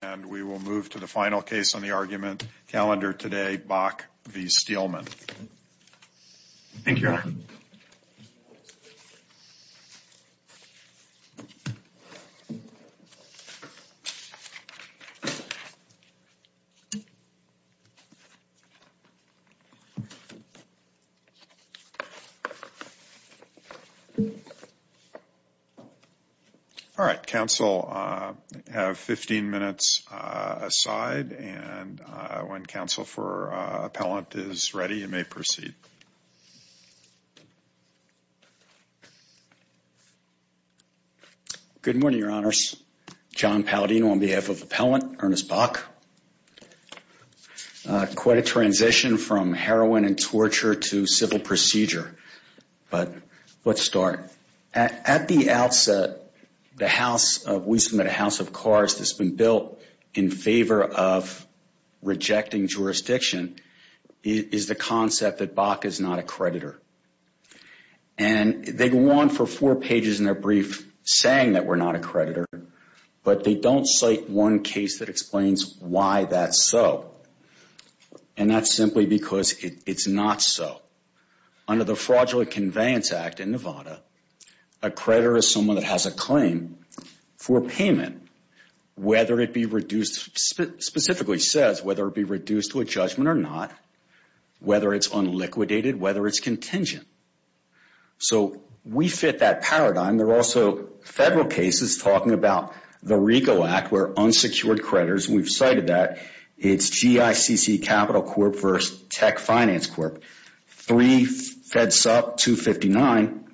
And we will move to the final case on the argument, Calendar Today, Bock v. Steelman. All right. Counsel, you have 15 minutes aside. And when counsel for appellant is ready, you may proceed. Good morning, Your Honors. John Paladino on behalf of Appellant Ernest Bock. Quite a transition from heroin and torture to civil procedure. But let's start. At the outset, the House of – we submit a House of Cards that's been built in favor of rejecting jurisdiction is the concept that Bock is not a creditor. And they go on for four pages in their brief saying that we're not a creditor, but they don't cite one case that explains why that's so. And that's simply because it's not so. Under the Fraudulent Conveyance Act in Nevada, a creditor is someone that has a claim for payment, whether it be reduced – specifically says whether it be reduced to a judgment or not, whether it's unliquidated, whether it's contingent. So we fit that paradigm. There are also several cases talking about the RICO Act where unsecured creditors – we've cited that. It's GICC Capital Corp. versus Tech Finance Corp., three FEDSUP, 259,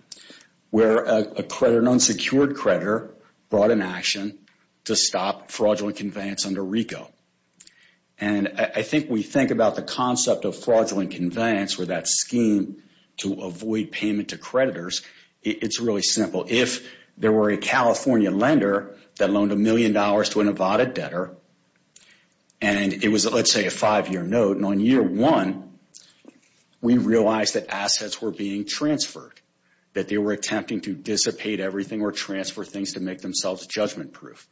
where an unsecured creditor brought an action to stop fraudulent conveyance under RICO. And I think we think about the concept of fraudulent conveyance or that scheme to avoid payment to creditors. It's really simple. If there were a California lender that loaned a million dollars to a Nevada debtor, and it was, let's say, a five-year note. And on year one, we realized that assets were being transferred, that they were attempting to dissipate everything or transfer things to make themselves judgment-proof.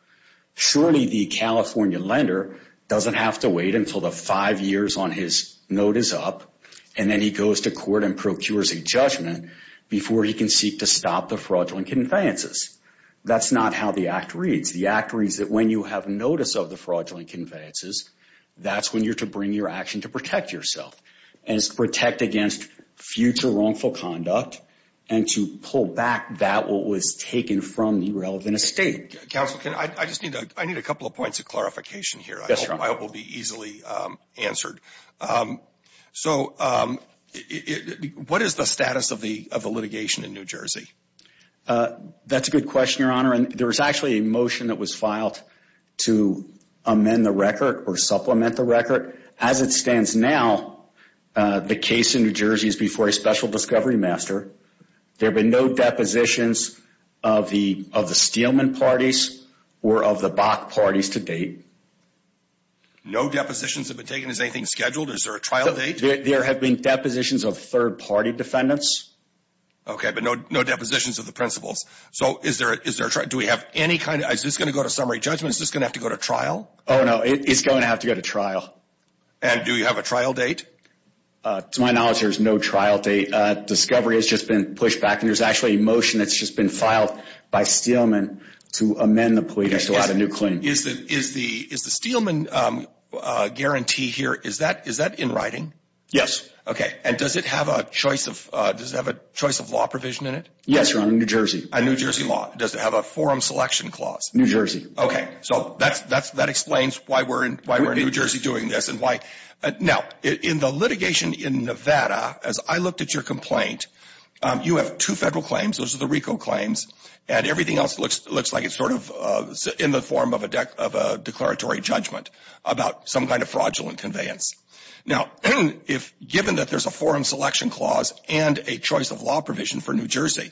Surely the California lender doesn't have to wait until the five years on his note is up, and then he goes to court and procures a judgment before he can seek to stop the fraudulent conveyances. That's not how the Act reads. The Act reads that when you have notice of the fraudulent conveyances, that's when you're to bring your action to protect yourself and to protect against future wrongful conduct and to pull back that what was taken from the relevant estate. Counsel, I just need a couple of points of clarification here. I hope I will be easily answered. So what is the status of the litigation in New Jersey? That's a good question, Your Honor, and there was actually a motion that was filed to amend the record or supplement the record. As it stands now, the case in New Jersey is before a special discovery master. There have been no depositions of the Steelman parties or of the Bach parties to date. No depositions have been taken? Is anything scheduled? Is there a trial date? There have been depositions of third-party defendants. Okay, but no depositions of the principals. So is there a trial? Do we have any kind of – is this going to go to summary judgment? Is this going to have to go to trial? Oh, no, it's going to have to go to trial. And do you have a trial date? To my knowledge, there's no trial date. Discovery has just been pushed back, and there's actually a motion that's just been filed by Steelman to amend the plea to get a new claim. Is the Steelman guarantee here – is that in writing? Yes. Okay, and does it have a choice of law provision in it? Yes, Your Honor, New Jersey. A New Jersey law. Does it have a forum selection clause? New Jersey. Okay, so that explains why we're in New Jersey doing this and why – now, in the litigation in Nevada, as I looked at your complaint, you have two federal claims, those are the RICO claims, and everything else looks like it's sort of in the form of a declaratory judgment about some kind of fraudulent conveyance. Now, given that there's a forum selection clause and a choice of law provision for New Jersey,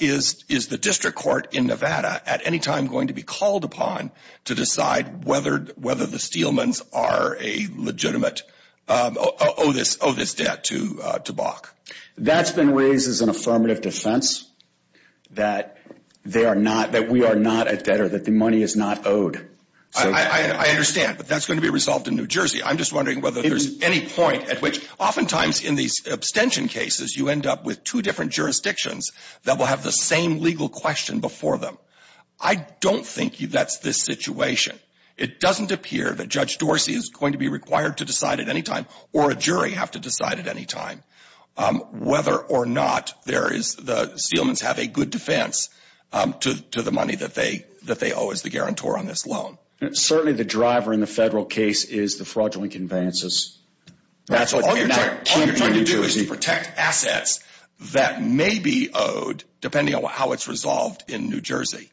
is the district court in Nevada at any time going to be called upon to decide whether the Steelmans are a legitimate – owe this debt to Bach? That's been raised as an affirmative defense that they are not – that we are not a debtor, that the money is not owed. I understand, but that's going to be resolved in New Jersey. I'm just wondering whether there's any point at which – oftentimes in these abstention cases, you end up with two different jurisdictions that will have the same legal question before them. I don't think that's the situation. It doesn't appear that Judge Dorsey is going to be required to decide at any time or a jury have to decide at any time whether or not there is – the Steelmans have a good defense to the money that they owe as the guarantor on this loan. Certainly the driver in the federal case is the fraudulent conveyances. All you're trying to do is to protect assets that may be owed, depending on how it's resolved in New Jersey.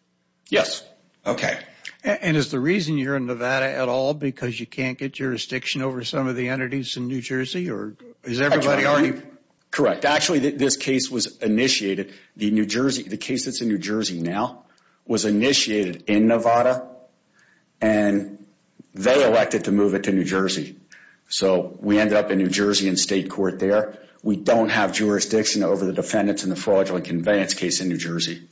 Yes. Okay. And is the reason you're in Nevada at all because you can't get jurisdiction over some of the entities in New Jersey, or is everybody already – Correct. Actually, this case was initiated. The New Jersey – the case that's in New Jersey now was initiated in Nevada, and they elected to move it to New Jersey. So we ended up in New Jersey in state court there. We don't have jurisdiction over the defendants in the fraudulent conveyance case in New Jersey.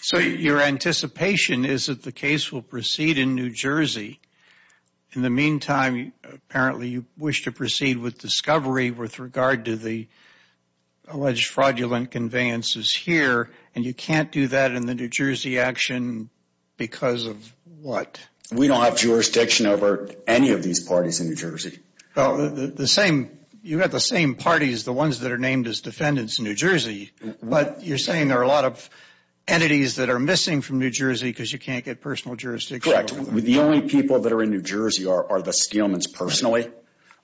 So your anticipation is that the case will proceed in New Jersey. In the meantime, apparently you wish to proceed with discovery with regard to the alleged fraudulent conveyances here, and you can't do that in the New Jersey action because of what? We don't have jurisdiction over any of these parties in New Jersey. The same – you have the same parties, the ones that are named as defendants in New Jersey, but you're saying there are a lot of entities that are missing from New Jersey because you can't get personal jurisdiction over them. Correct. The only people that are in New Jersey are the Scalemans personally.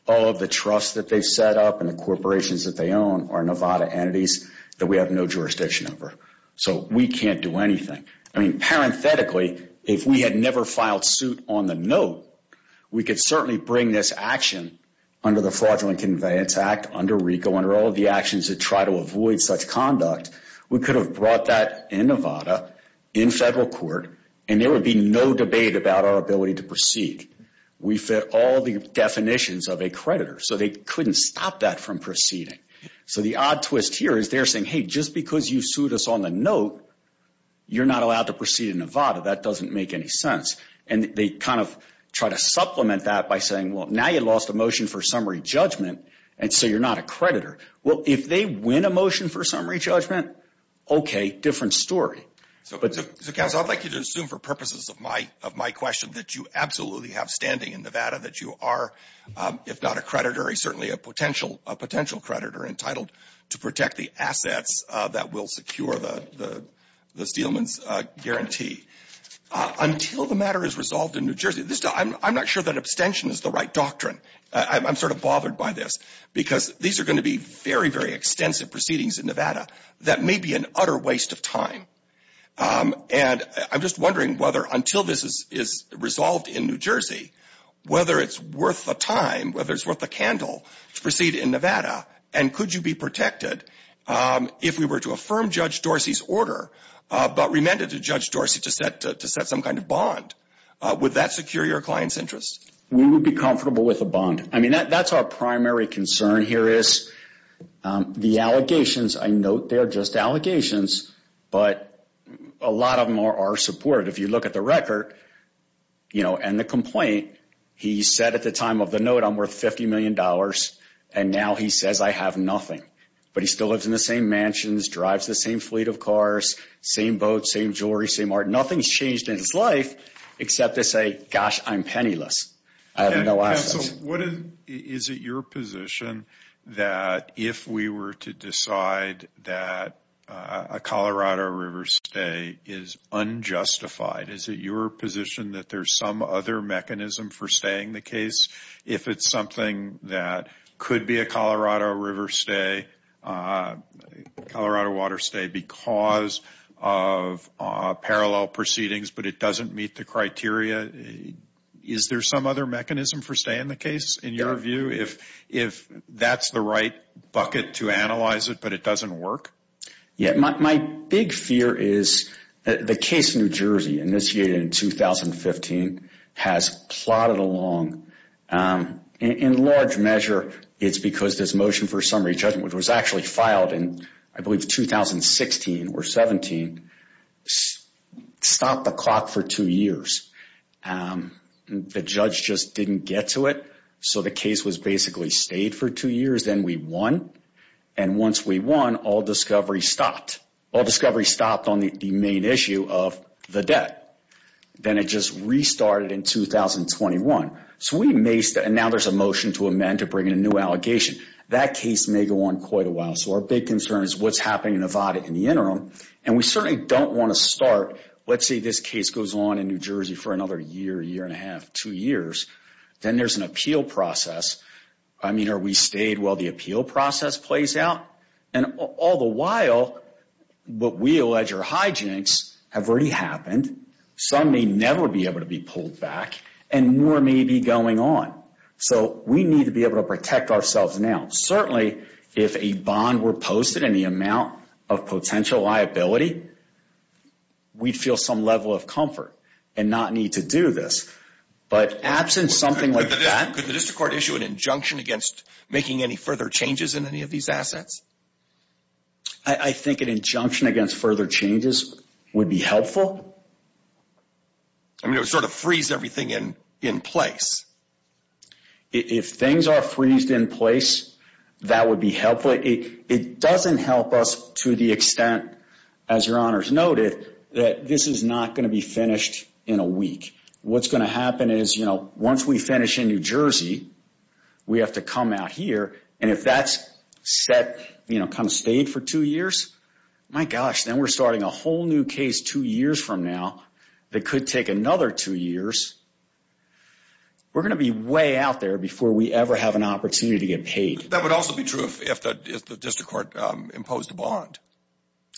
All of the trusts that they've set up and the corporations that they own are Nevada entities that we have no jurisdiction over. So we can't do anything. I mean, parenthetically, if we had never filed suit on the note, we could certainly bring this action under the Fraudulent Conveyance Act, under RICO, under all of the actions that try to avoid such conduct. We could have brought that in Nevada in federal court, and there would be no debate about our ability to proceed. We fit all the definitions of a creditor, so they couldn't stop that from proceeding. So the odd twist here is they're saying, hey, just because you sued us on the note, you're not allowed to proceed in Nevada. That doesn't make any sense. And they kind of try to supplement that by saying, well, now you lost a motion for summary judgment, and so you're not a creditor. Well, if they win a motion for summary judgment, okay, different story. So, Counsel, I'd like you to assume for purposes of my question that you absolutely have standing in Nevada, that you are, if not a creditor, very certainly a potential creditor entitled to protect the assets that will secure the Steelman's guarantee. Until the matter is resolved in New Jersey, I'm not sure that abstention is the right doctrine. I'm sort of bothered by this, because these are going to be very, very extensive proceedings in Nevada that may be an utter waste of time. And I'm just wondering whether until this is resolved in New Jersey, whether it's worth the time, whether it's worth the candle to proceed in Nevada, and could you be protected if we were to affirm Judge Dorsey's order but remanded to Judge Dorsey to set some kind of bond? Would that secure your client's interests? We would be comfortable with a bond. I mean, that's our primary concern here is the allegations. I note they are just allegations, but a lot of them are supported. But if you look at the record and the complaint, he said at the time of the note, I'm worth $50 million, and now he says I have nothing. But he still lives in the same mansions, drives the same fleet of cars, same boat, same jewelry, same art. Nothing's changed in his life except to say, gosh, I'm penniless. I have no assets. Is it your position that if we were to decide that a Colorado River stay is unjustified, is it your position that there's some other mechanism for staying the case? If it's something that could be a Colorado River stay, Colorado Water stay, because of parallel proceedings but it doesn't meet the criteria, is there some other mechanism for staying the case, in your view, if that's the right bucket to analyze it but it doesn't work? Yeah. My big fear is the case in New Jersey initiated in 2015 has plotted along. In large measure, it's because this motion for summary judgment, which was actually filed in, I believe, 2016 or 17, stopped the clock for two years. The judge just didn't get to it. So the case was basically stayed for two years. Then we won. And once we won, all discovery stopped. All discovery stopped on the main issue of the debt. Then it just restarted in 2021. And now there's a motion to amend to bring in a new allegation. That case may go on quite a while. So our big concern is what's happening in Nevada in the interim. And we certainly don't want to start, let's say this case goes on in New Jersey for another year, year and a half, two years. Then there's an appeal process. I mean, are we stayed while the appeal process plays out? And all the while, what we allege are hijinks have already happened. Some may never be able to be pulled back. And more may be going on. So we need to be able to protect ourselves now. Certainly, if a bond were posted in the amount of potential liability, we'd feel some level of comfort and not need to do this. But absent something like that. Could the district court issue an injunction against making any further changes in any of these assets? I think an injunction against further changes would be helpful. I mean, it would sort of freeze everything in place. If things are freezed in place, that would be helpful. It doesn't help us to the extent, as Your Honors noted, that this is not going to be finished in a week. What's going to happen is, you know, once we finish in New Jersey, we have to come out here. And if that's set, you know, come stayed for two years, my gosh, then we're starting a whole new case two years from now that could take another two years, we're going to be way out there before we ever have an opportunity to get paid. That would also be true if the district court imposed a bond.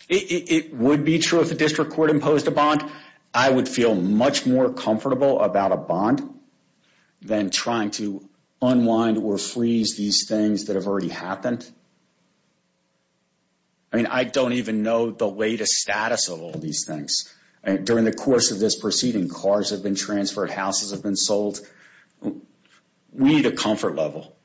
It would be true if the district court imposed a bond. I would feel much more comfortable about a bond than trying to unwind or freeze these things that have already happened. I mean, I don't even know the latest status of all these things. During the course of this proceeding, cars have been transferred, houses have been sold. We need a comfort level.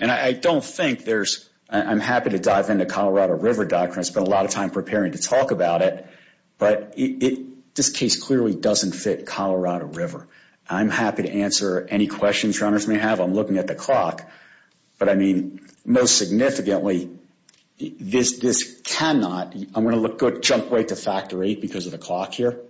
And I don't think there's – I'm happy to dive into Colorado River doctrine. I spent a lot of time preparing to talk about it, but this case clearly doesn't fit Colorado River. I'm happy to answer any questions Your Honors may have. I'm looking at the clock, but, I mean, most significantly, this cannot – I'm going to jump right to Factor VIII because of the clock here,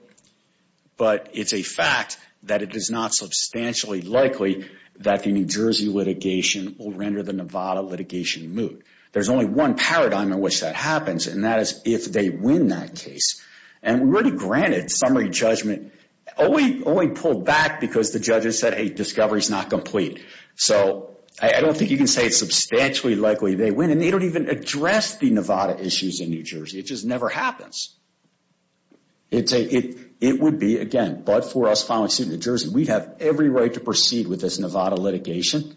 but it's a fact that it is not substantially likely that the New Jersey litigation will render the Nevada litigation moot. There's only one paradigm in which that happens, and that is if they win that case. And really, granted, summary judgment only pulled back because the judges said, hey, discovery's not complete. So I don't think you can say it's substantially likely they win, and they don't even address the Nevada issues in New Jersey. It just never happens. It would be, again, but for us filing suit in New Jersey, we'd have every right to proceed with this Nevada litigation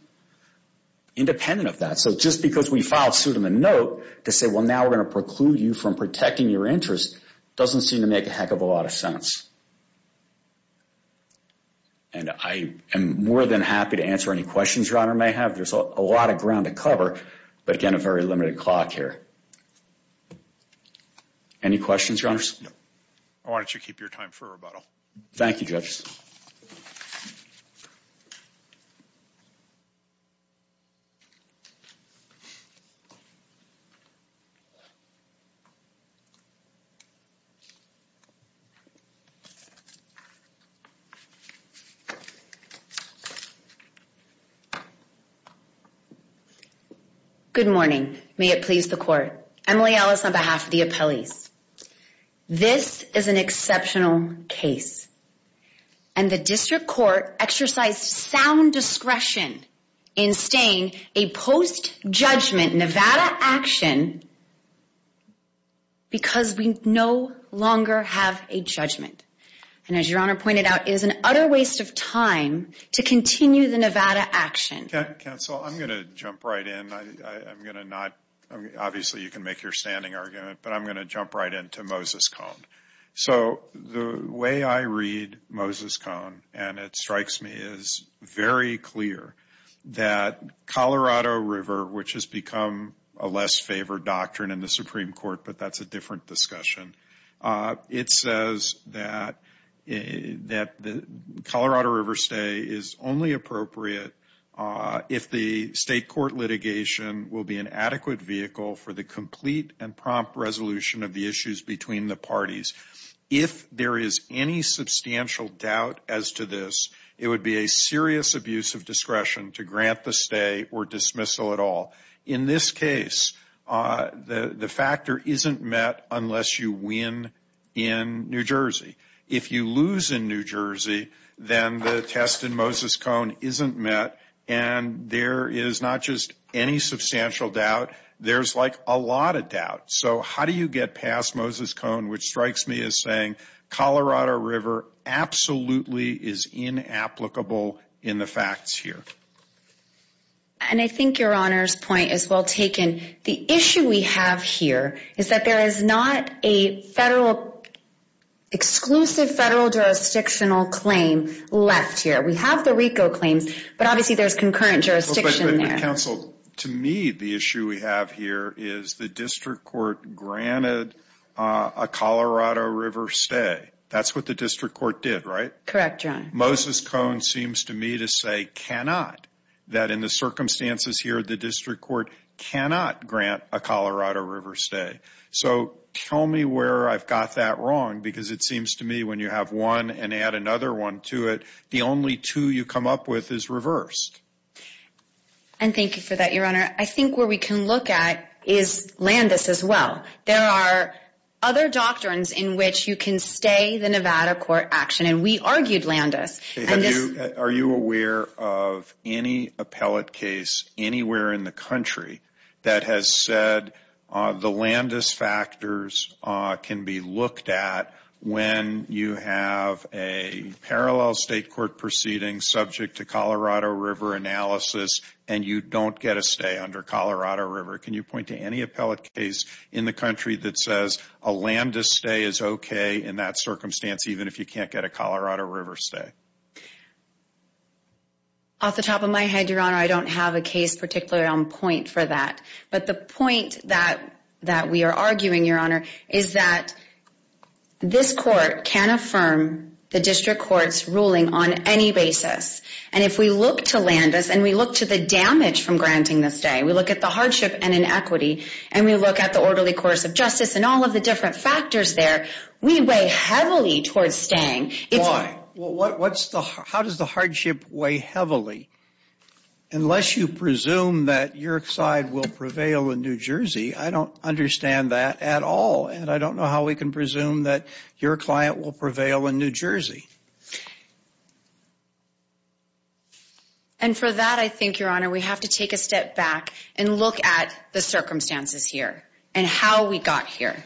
independent of that. So just because we filed suit on the note to say, well, now we're going to preclude you from protecting your interests doesn't seem to make a heck of a lot of sense. And I am more than happy to answer any questions your Honor may have. There's a lot of ground to cover, but, again, a very limited clock here. Any questions, Your Honors? No. Why don't you keep your time for rebuttal. Thank you, Judge. Good morning. May it please the Court. Emily Ellis on behalf of the appellees. This is an exceptional case, and the District Court exercised sound discretion in staying a post-judgment Nevada action because we no longer have a judgment. And as Your Honor pointed out, it is an utter waste of time to continue the Nevada action. Counsel, I'm going to jump right in. I'm going to not, obviously you can make your standing argument, but I'm going to jump right into Moses Cone. So the way I read Moses Cone, and it strikes me as very clear, that Colorado River, which has become a less favored doctrine in the Supreme Court, but that's a different discussion, it says that the Colorado River stay is only appropriate if the state court litigation will be an adequate vehicle for the complete and prompt resolution of the issues between the parties. If there is any substantial doubt as to this, it would be a serious abuse of discretion to grant the stay or dismissal at all. In this case, the factor isn't met unless you win in New Jersey. If you lose in New Jersey, then the test in Moses Cone isn't met, and there is not just any substantial doubt. There's like a lot of doubt. So how do you get past Moses Cone, which strikes me as saying Colorado River absolutely is inapplicable in the facts here. And I think your Honor's point is well taken. The issue we have here is that there is not a federal, exclusive federal jurisdictional claim left here. We have the RICO claims, but obviously there's concurrent jurisdiction there. Counsel, to me, the issue we have here is the district court granted a Colorado River stay. That's what the district court did, right? Correct, Your Honor. Moses Cone seems to me to say cannot, that in the circumstances here, the district court cannot grant a Colorado River stay. So tell me where I've got that wrong, because it seems to me when you have one and add another one to it, the only two you come up with is reversed. And thank you for that, Your Honor. I think where we can look at is Landis as well. There are other doctrines in which you can stay the Nevada court action, and we argued Landis. Are you aware of any appellate case anywhere in the country that has said the Landis factors can be looked at when you have a parallel state court proceeding subject to Colorado River analysis and you don't get a stay under Colorado River? Can you point to any appellate case in the country that says a Landis stay is okay in that circumstance, even if you can't get a Colorado River stay? Off the top of my head, Your Honor, I don't have a case particularly on point for that. But the point that we are arguing, Your Honor, is that this court can affirm the district court's ruling on any basis. And if we look to Landis and we look to the damage from granting the stay, we look at the hardship and inequity, and we look at the orderly course of justice and all of the different factors there, we weigh heavily towards staying. Why? How does the hardship weigh heavily? Unless you presume that your side will prevail in New Jersey, I don't understand that at all. And I don't know how we can presume that your client will prevail in New Jersey. And for that, I think, Your Honor, we have to take a step back and look at the circumstances here and how we got here.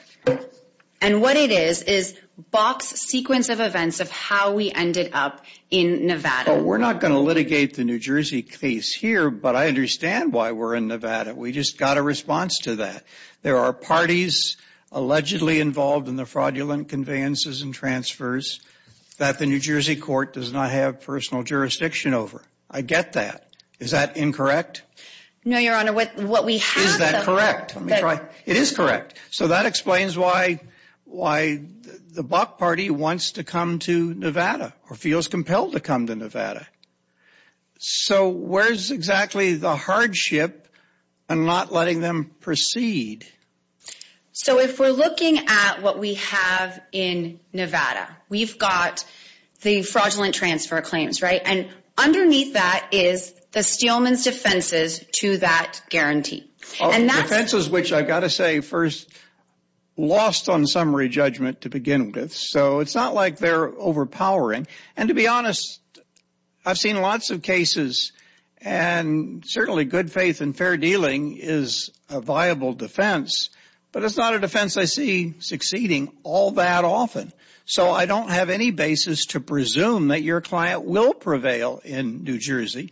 And what it is is Bach's sequence of events of how we ended up in Nevada. Well, we're not going to litigate the New Jersey case here, but I understand why we're in Nevada. We just got a response to that. There are parties allegedly involved in the fraudulent conveyances and transfers that the New Jersey court does not have personal jurisdiction over. I get that. Is that incorrect? No, Your Honor. What we have though. Is that correct? Let me try. It is correct. to come to Nevada. So where's exactly the hardship in not letting them proceed? So if we're looking at what we have in Nevada, we've got the fraudulent transfer claims, right? And underneath that is the Steelman's defenses to that guarantee. Oh, defenses which I've got to say first lost on summary judgment to begin with. So it's not like they're overpowering. And to be honest, I've seen lots of cases, and certainly good faith and fair dealing is a viable defense, but it's not a defense I see succeeding all that often. So I don't have any basis to presume that your client will prevail in New Jersey,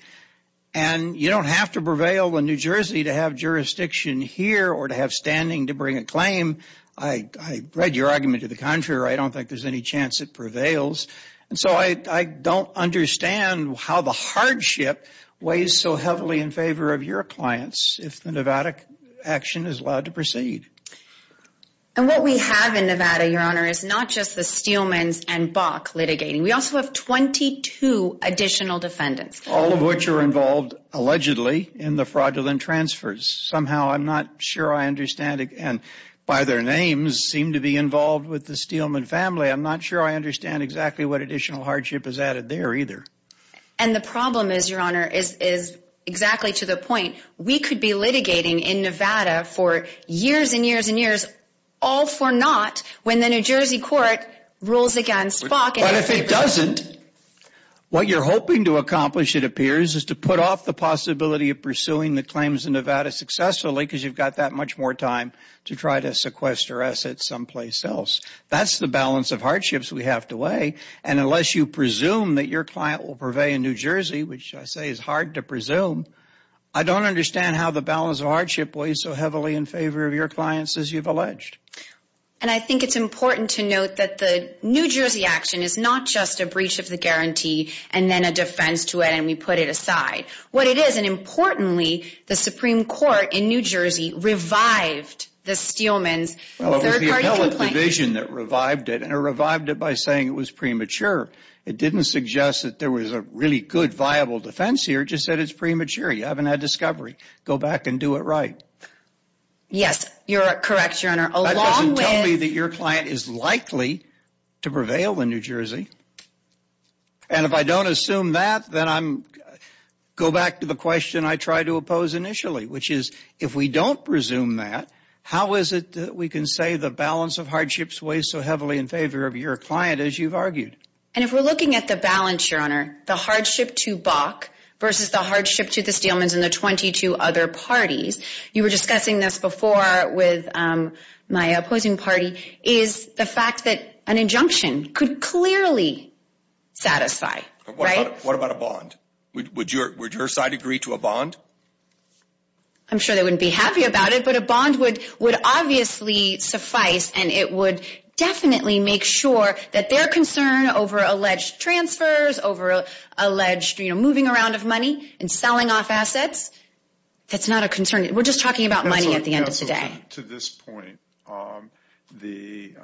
and you don't have to prevail in New Jersey to have jurisdiction here or to have standing to bring a claim. I read your argument to the contrary. I don't think there's any chance it prevails. And so I don't understand how the hardship weighs so heavily in favor of your clients if the Nevada action is allowed to proceed. And what we have in Nevada, Your Honor, is not just the Steelman's and Bach litigating. We also have 22 additional defendants. All of which are involved, allegedly, in the fraudulent transfers. Somehow I'm not sure I understand, and by their names seem to be involved with the Steelman family. I'm not sure I understand exactly what additional hardship is added there either. And the problem is, Your Honor, is exactly to the point. We could be litigating in Nevada for years and years and years, all for naught, when the New Jersey court rules against Bach. But if it doesn't, what you're hoping to accomplish, it appears, is to put off the possibility of pursuing the claims in Nevada successfully because you've got that much more time to try to sequester assets someplace else. That's the balance of hardships we have to weigh. And unless you presume that your client will purvey in New Jersey, which I say is hard to presume, I don't understand how the balance of hardship weighs so heavily in favor of your clients as you've alleged. And I think it's important to note that the New Jersey action is not just a breach of the guarantee and then a defense to it and we put it aside. What it is, and importantly, the Supreme Court in New Jersey revived the Steelman's third-party complaint. Well, it was the appellate division that revived it, and it revived it by saying it was premature. It didn't suggest that there was a really good, viable defense here. It just said it's premature, you haven't had discovery. Go back and do it right. Yes, you're correct, Your Honor. That doesn't tell me that your client is likely to prevail in New Jersey. And if I don't assume that, then I go back to the question I tried to oppose initially, which is if we don't presume that, how is it that we can say the balance of hardship weighs so heavily in favor of your client as you've argued? And if we're looking at the balance, Your Honor, the hardship to Bach versus the hardship to the Steelman's and the 22 other parties, you were discussing this before with my opposing party, is the fact that an injunction could clearly satisfy, right? What about a bond? Would your side agree to a bond? I'm sure they wouldn't be happy about it, but a bond would obviously suffice, and it would definitely make sure that their concern over alleged transfers, over alleged moving around of money and selling off assets, that's not a concern. We're just talking about money at the end of the day. To this point, the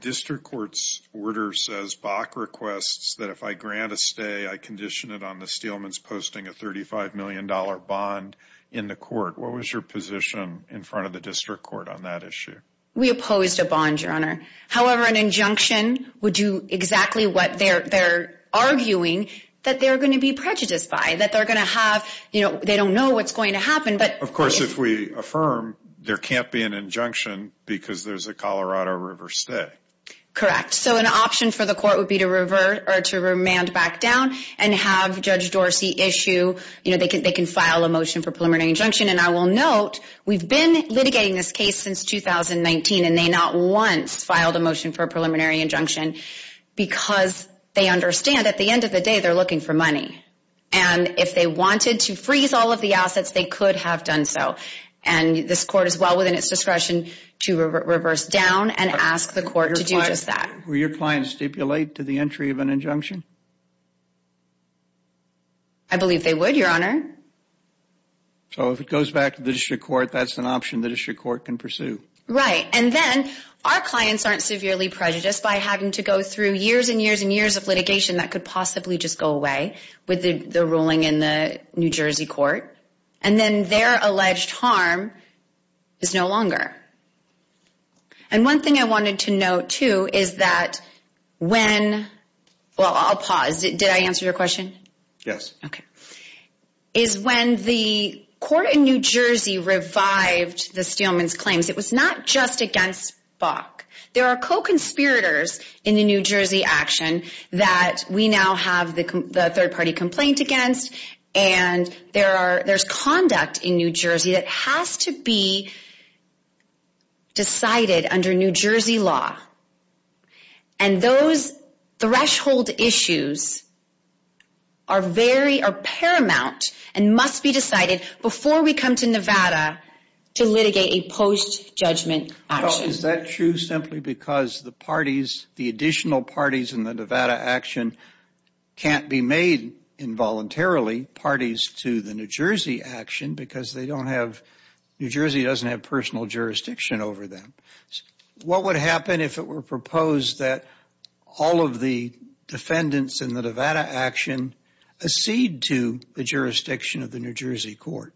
district court's order says Bach requests that if I grant a stay, I condition it on the Steelman's posting a $35 million bond in the court. What was your position in front of the district court on that issue? We opposed a bond, Your Honor. However, an injunction would do exactly what they're arguing, that they're going to be prejudiced by, that they're going to have, they don't know what's going to happen. Of course, if we affirm there can't be an injunction because there's a Colorado River stay. Correct. An option for the court would be to remand back down and have Judge Dorsey issue, they can file a motion for preliminary injunction, and I will note we've been litigating this case since 2019, and they not once filed a motion for a preliminary injunction because they understand at the end of the day they're looking for money. If they wanted to freeze all of the assets, they could have done so. This court is well within its discretion to reverse down and ask the court to do just that. Would your client stipulate to the entry of an injunction? I believe they would, Your Honor. So if it goes back to the district court, that's an option the district court can pursue. Right, and then our clients aren't severely prejudiced by having to go through years and years and years of litigation that could possibly just go away with the ruling in the New Jersey court, and then their alleged harm is no longer. And one thing I wanted to note, too, is that when, well, I'll pause. Did I answer your question? Yes. Okay. Is when the court in New Jersey revived the Steelman's claims, it was not just against Bach. There are co-conspirators in the New Jersey action that we now have the third-party complaint against, and there's conduct in New Jersey that has to be decided under New Jersey law. And those threshold issues are paramount and must be decided before we come to Nevada to litigate a post-judgment action. Well, is that true simply because the parties, the additional parties in the Nevada action can't be made involuntarily parties to the New Jersey action because they don't have, New Jersey doesn't have personal jurisdiction over them? What would happen if it were proposed that all of the defendants in the Nevada action accede to the jurisdiction of the New Jersey court?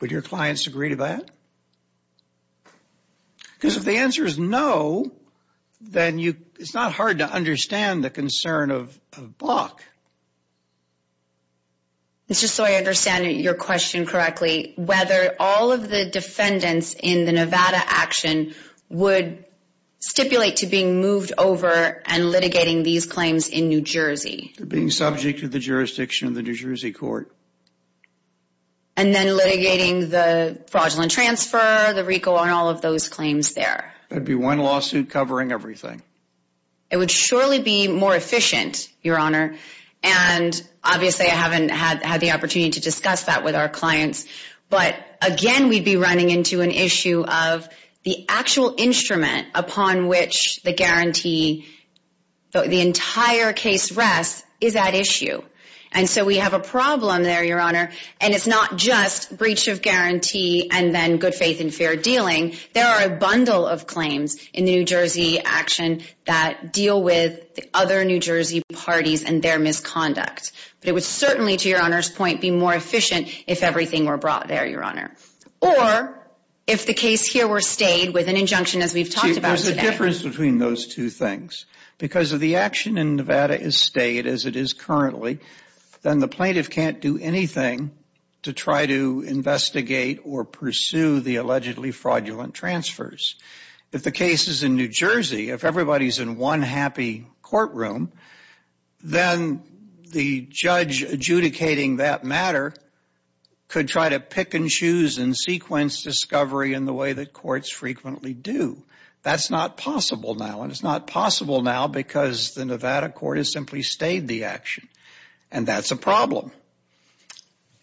Would your clients agree to that? Because if the answer is no, then it's not hard to understand the concern of Bach. Just so I understand your question correctly, whether all of the defendants in the Nevada action would stipulate to being moved over and litigating these claims in New Jersey? Being subject to the jurisdiction of the New Jersey court. And then litigating the fraudulent transfer, the RICO, and all of those claims there? There'd be one lawsuit covering everything. It would surely be more efficient, Your Honor, and obviously I haven't had the opportunity to discuss that with our clients. But again, we'd be running into an issue of the actual instrument upon which the guarantee, the entire case rests, is at issue. And so we have a problem there, Your Honor, and it's not just breach of guarantee and then good faith and fair dealing. There are a bundle of claims in the New Jersey action that deal with the other New Jersey parties and their misconduct. But it would certainly, to Your Honor's point, be more efficient if everything were brought there, Your Honor. Or if the case here were stayed with an injunction as we've talked about today. There's a difference between those two things. Because if the action in Nevada is stayed as it is currently, then the plaintiff can't do anything to try to investigate or pursue the allegedly fraudulent transfers. If the case is in New Jersey, if everybody's in one happy courtroom, then the judge adjudicating that matter could try to pick and choose and sequence discovery in the way that courts frequently do. That's not possible now. And it's not possible now because the Nevada court has simply stayed the action. And that's a problem.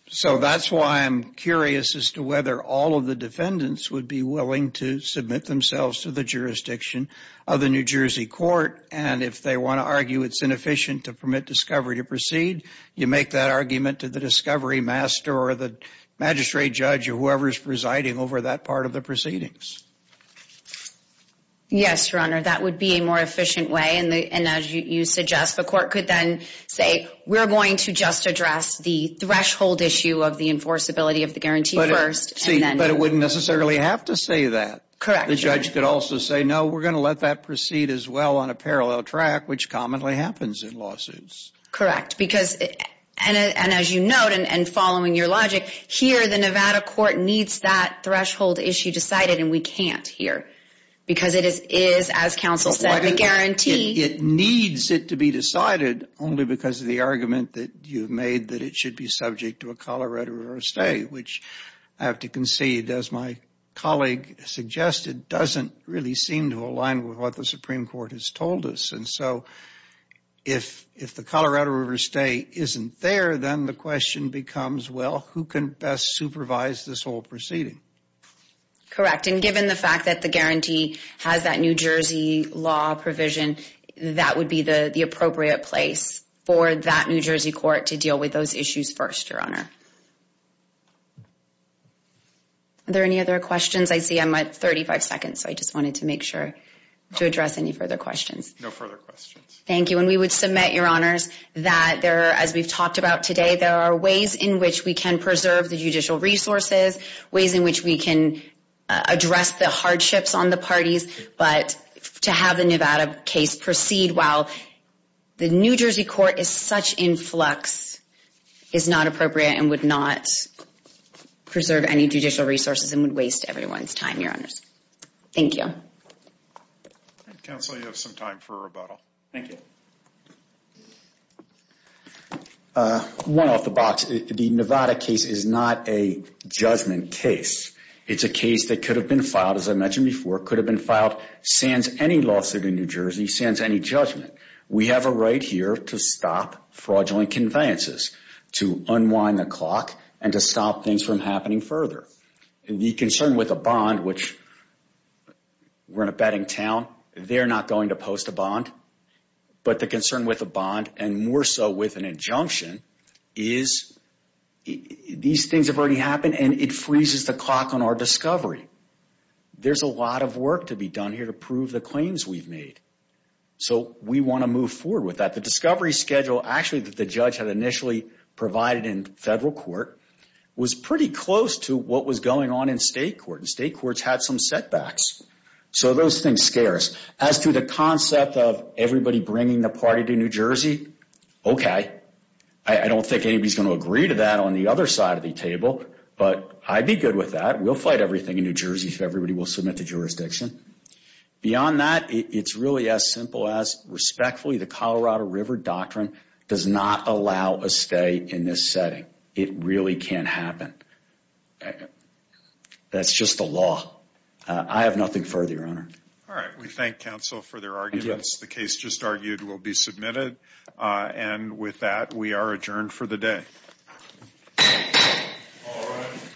So that's why I'm curious as to whether all of the defendants would be willing to submit themselves to the jurisdiction of the New Jersey court. And if they want to argue it's inefficient to permit discovery to proceed, you make that argument to the discovery master or the magistrate judge or whoever's presiding over that part of the proceedings. Yes, Your Honor. That would be a more efficient way. And as you suggest, the court could then say, we're going to just address the threshold issue of the enforceability of the guarantee first. But it wouldn't necessarily have to say that. Correct. The judge could also say, no, we're going to let that proceed as well on a parallel track, which commonly happens in lawsuits. Correct. And as you note, and following your logic, here the Nevada court needs that threshold issue decided, and we can't here. Because it is, as counsel said, the guarantee. It needs it to be decided only because of the argument that you made that it should be subject to a Colorado River stay, which I have to concede, as my colleague suggested, doesn't really seem to align with what the Supreme Court has told us. And so if the Colorado River stay isn't there, then the question becomes, well, who can best supervise this whole proceeding? Correct. And given the fact that the guarantee has that New Jersey law provision, that would be the appropriate place for that New Jersey court to deal with those issues first, Your Honor. Are there any other questions? I see I'm at 35 seconds, so I just wanted to make sure to address any further questions. No further questions. Thank you. And we would submit, Your Honors, that there, as we've talked about today, there are ways in which we can preserve the judicial resources, ways in which we can address the hardships on the parties, but to have the Nevada case proceed while the New Jersey court is such in flux is not appropriate and would not preserve any judicial resources and would waste everyone's time, Your Honors. Thank you. Counsel, you have some time for rebuttal. Thank you. One off the box, the Nevada case is not a judgment case. It's a case that could have been filed, as I mentioned before, could have been filed sans any lawsuit in New Jersey, sans any judgment. We have a right here to stop fraudulent conveyances, to unwind the clock, and to stop things from happening further. The concern with a bond, which we're in a betting town, they're not going to post a bond, but the concern with a bond, and more so with an injunction, is these things have already happened and it freezes the clock on our discovery. There's a lot of work to be done here to prove the claims we've made, so we want to move forward with that. The discovery schedule, actually, that the judge had initially provided in federal court was pretty close to what was going on in state court, and state courts had some setbacks. So those things scare us. As to the concept of everybody bringing the party to New Jersey, okay. I don't think anybody's going to agree to that on the other side of the table, but I'd be good with that. We'll fight everything in New Jersey if everybody will submit to jurisdiction. Beyond that, it's really as simple as, respectfully, the Colorado River Doctrine does not allow a stay in this setting. It really can't happen. That's just the law. I have nothing further, Your Honor. All right, we thank counsel for their arguments. The case just argued will be submitted. And with that, we are adjourned for the day. All rise.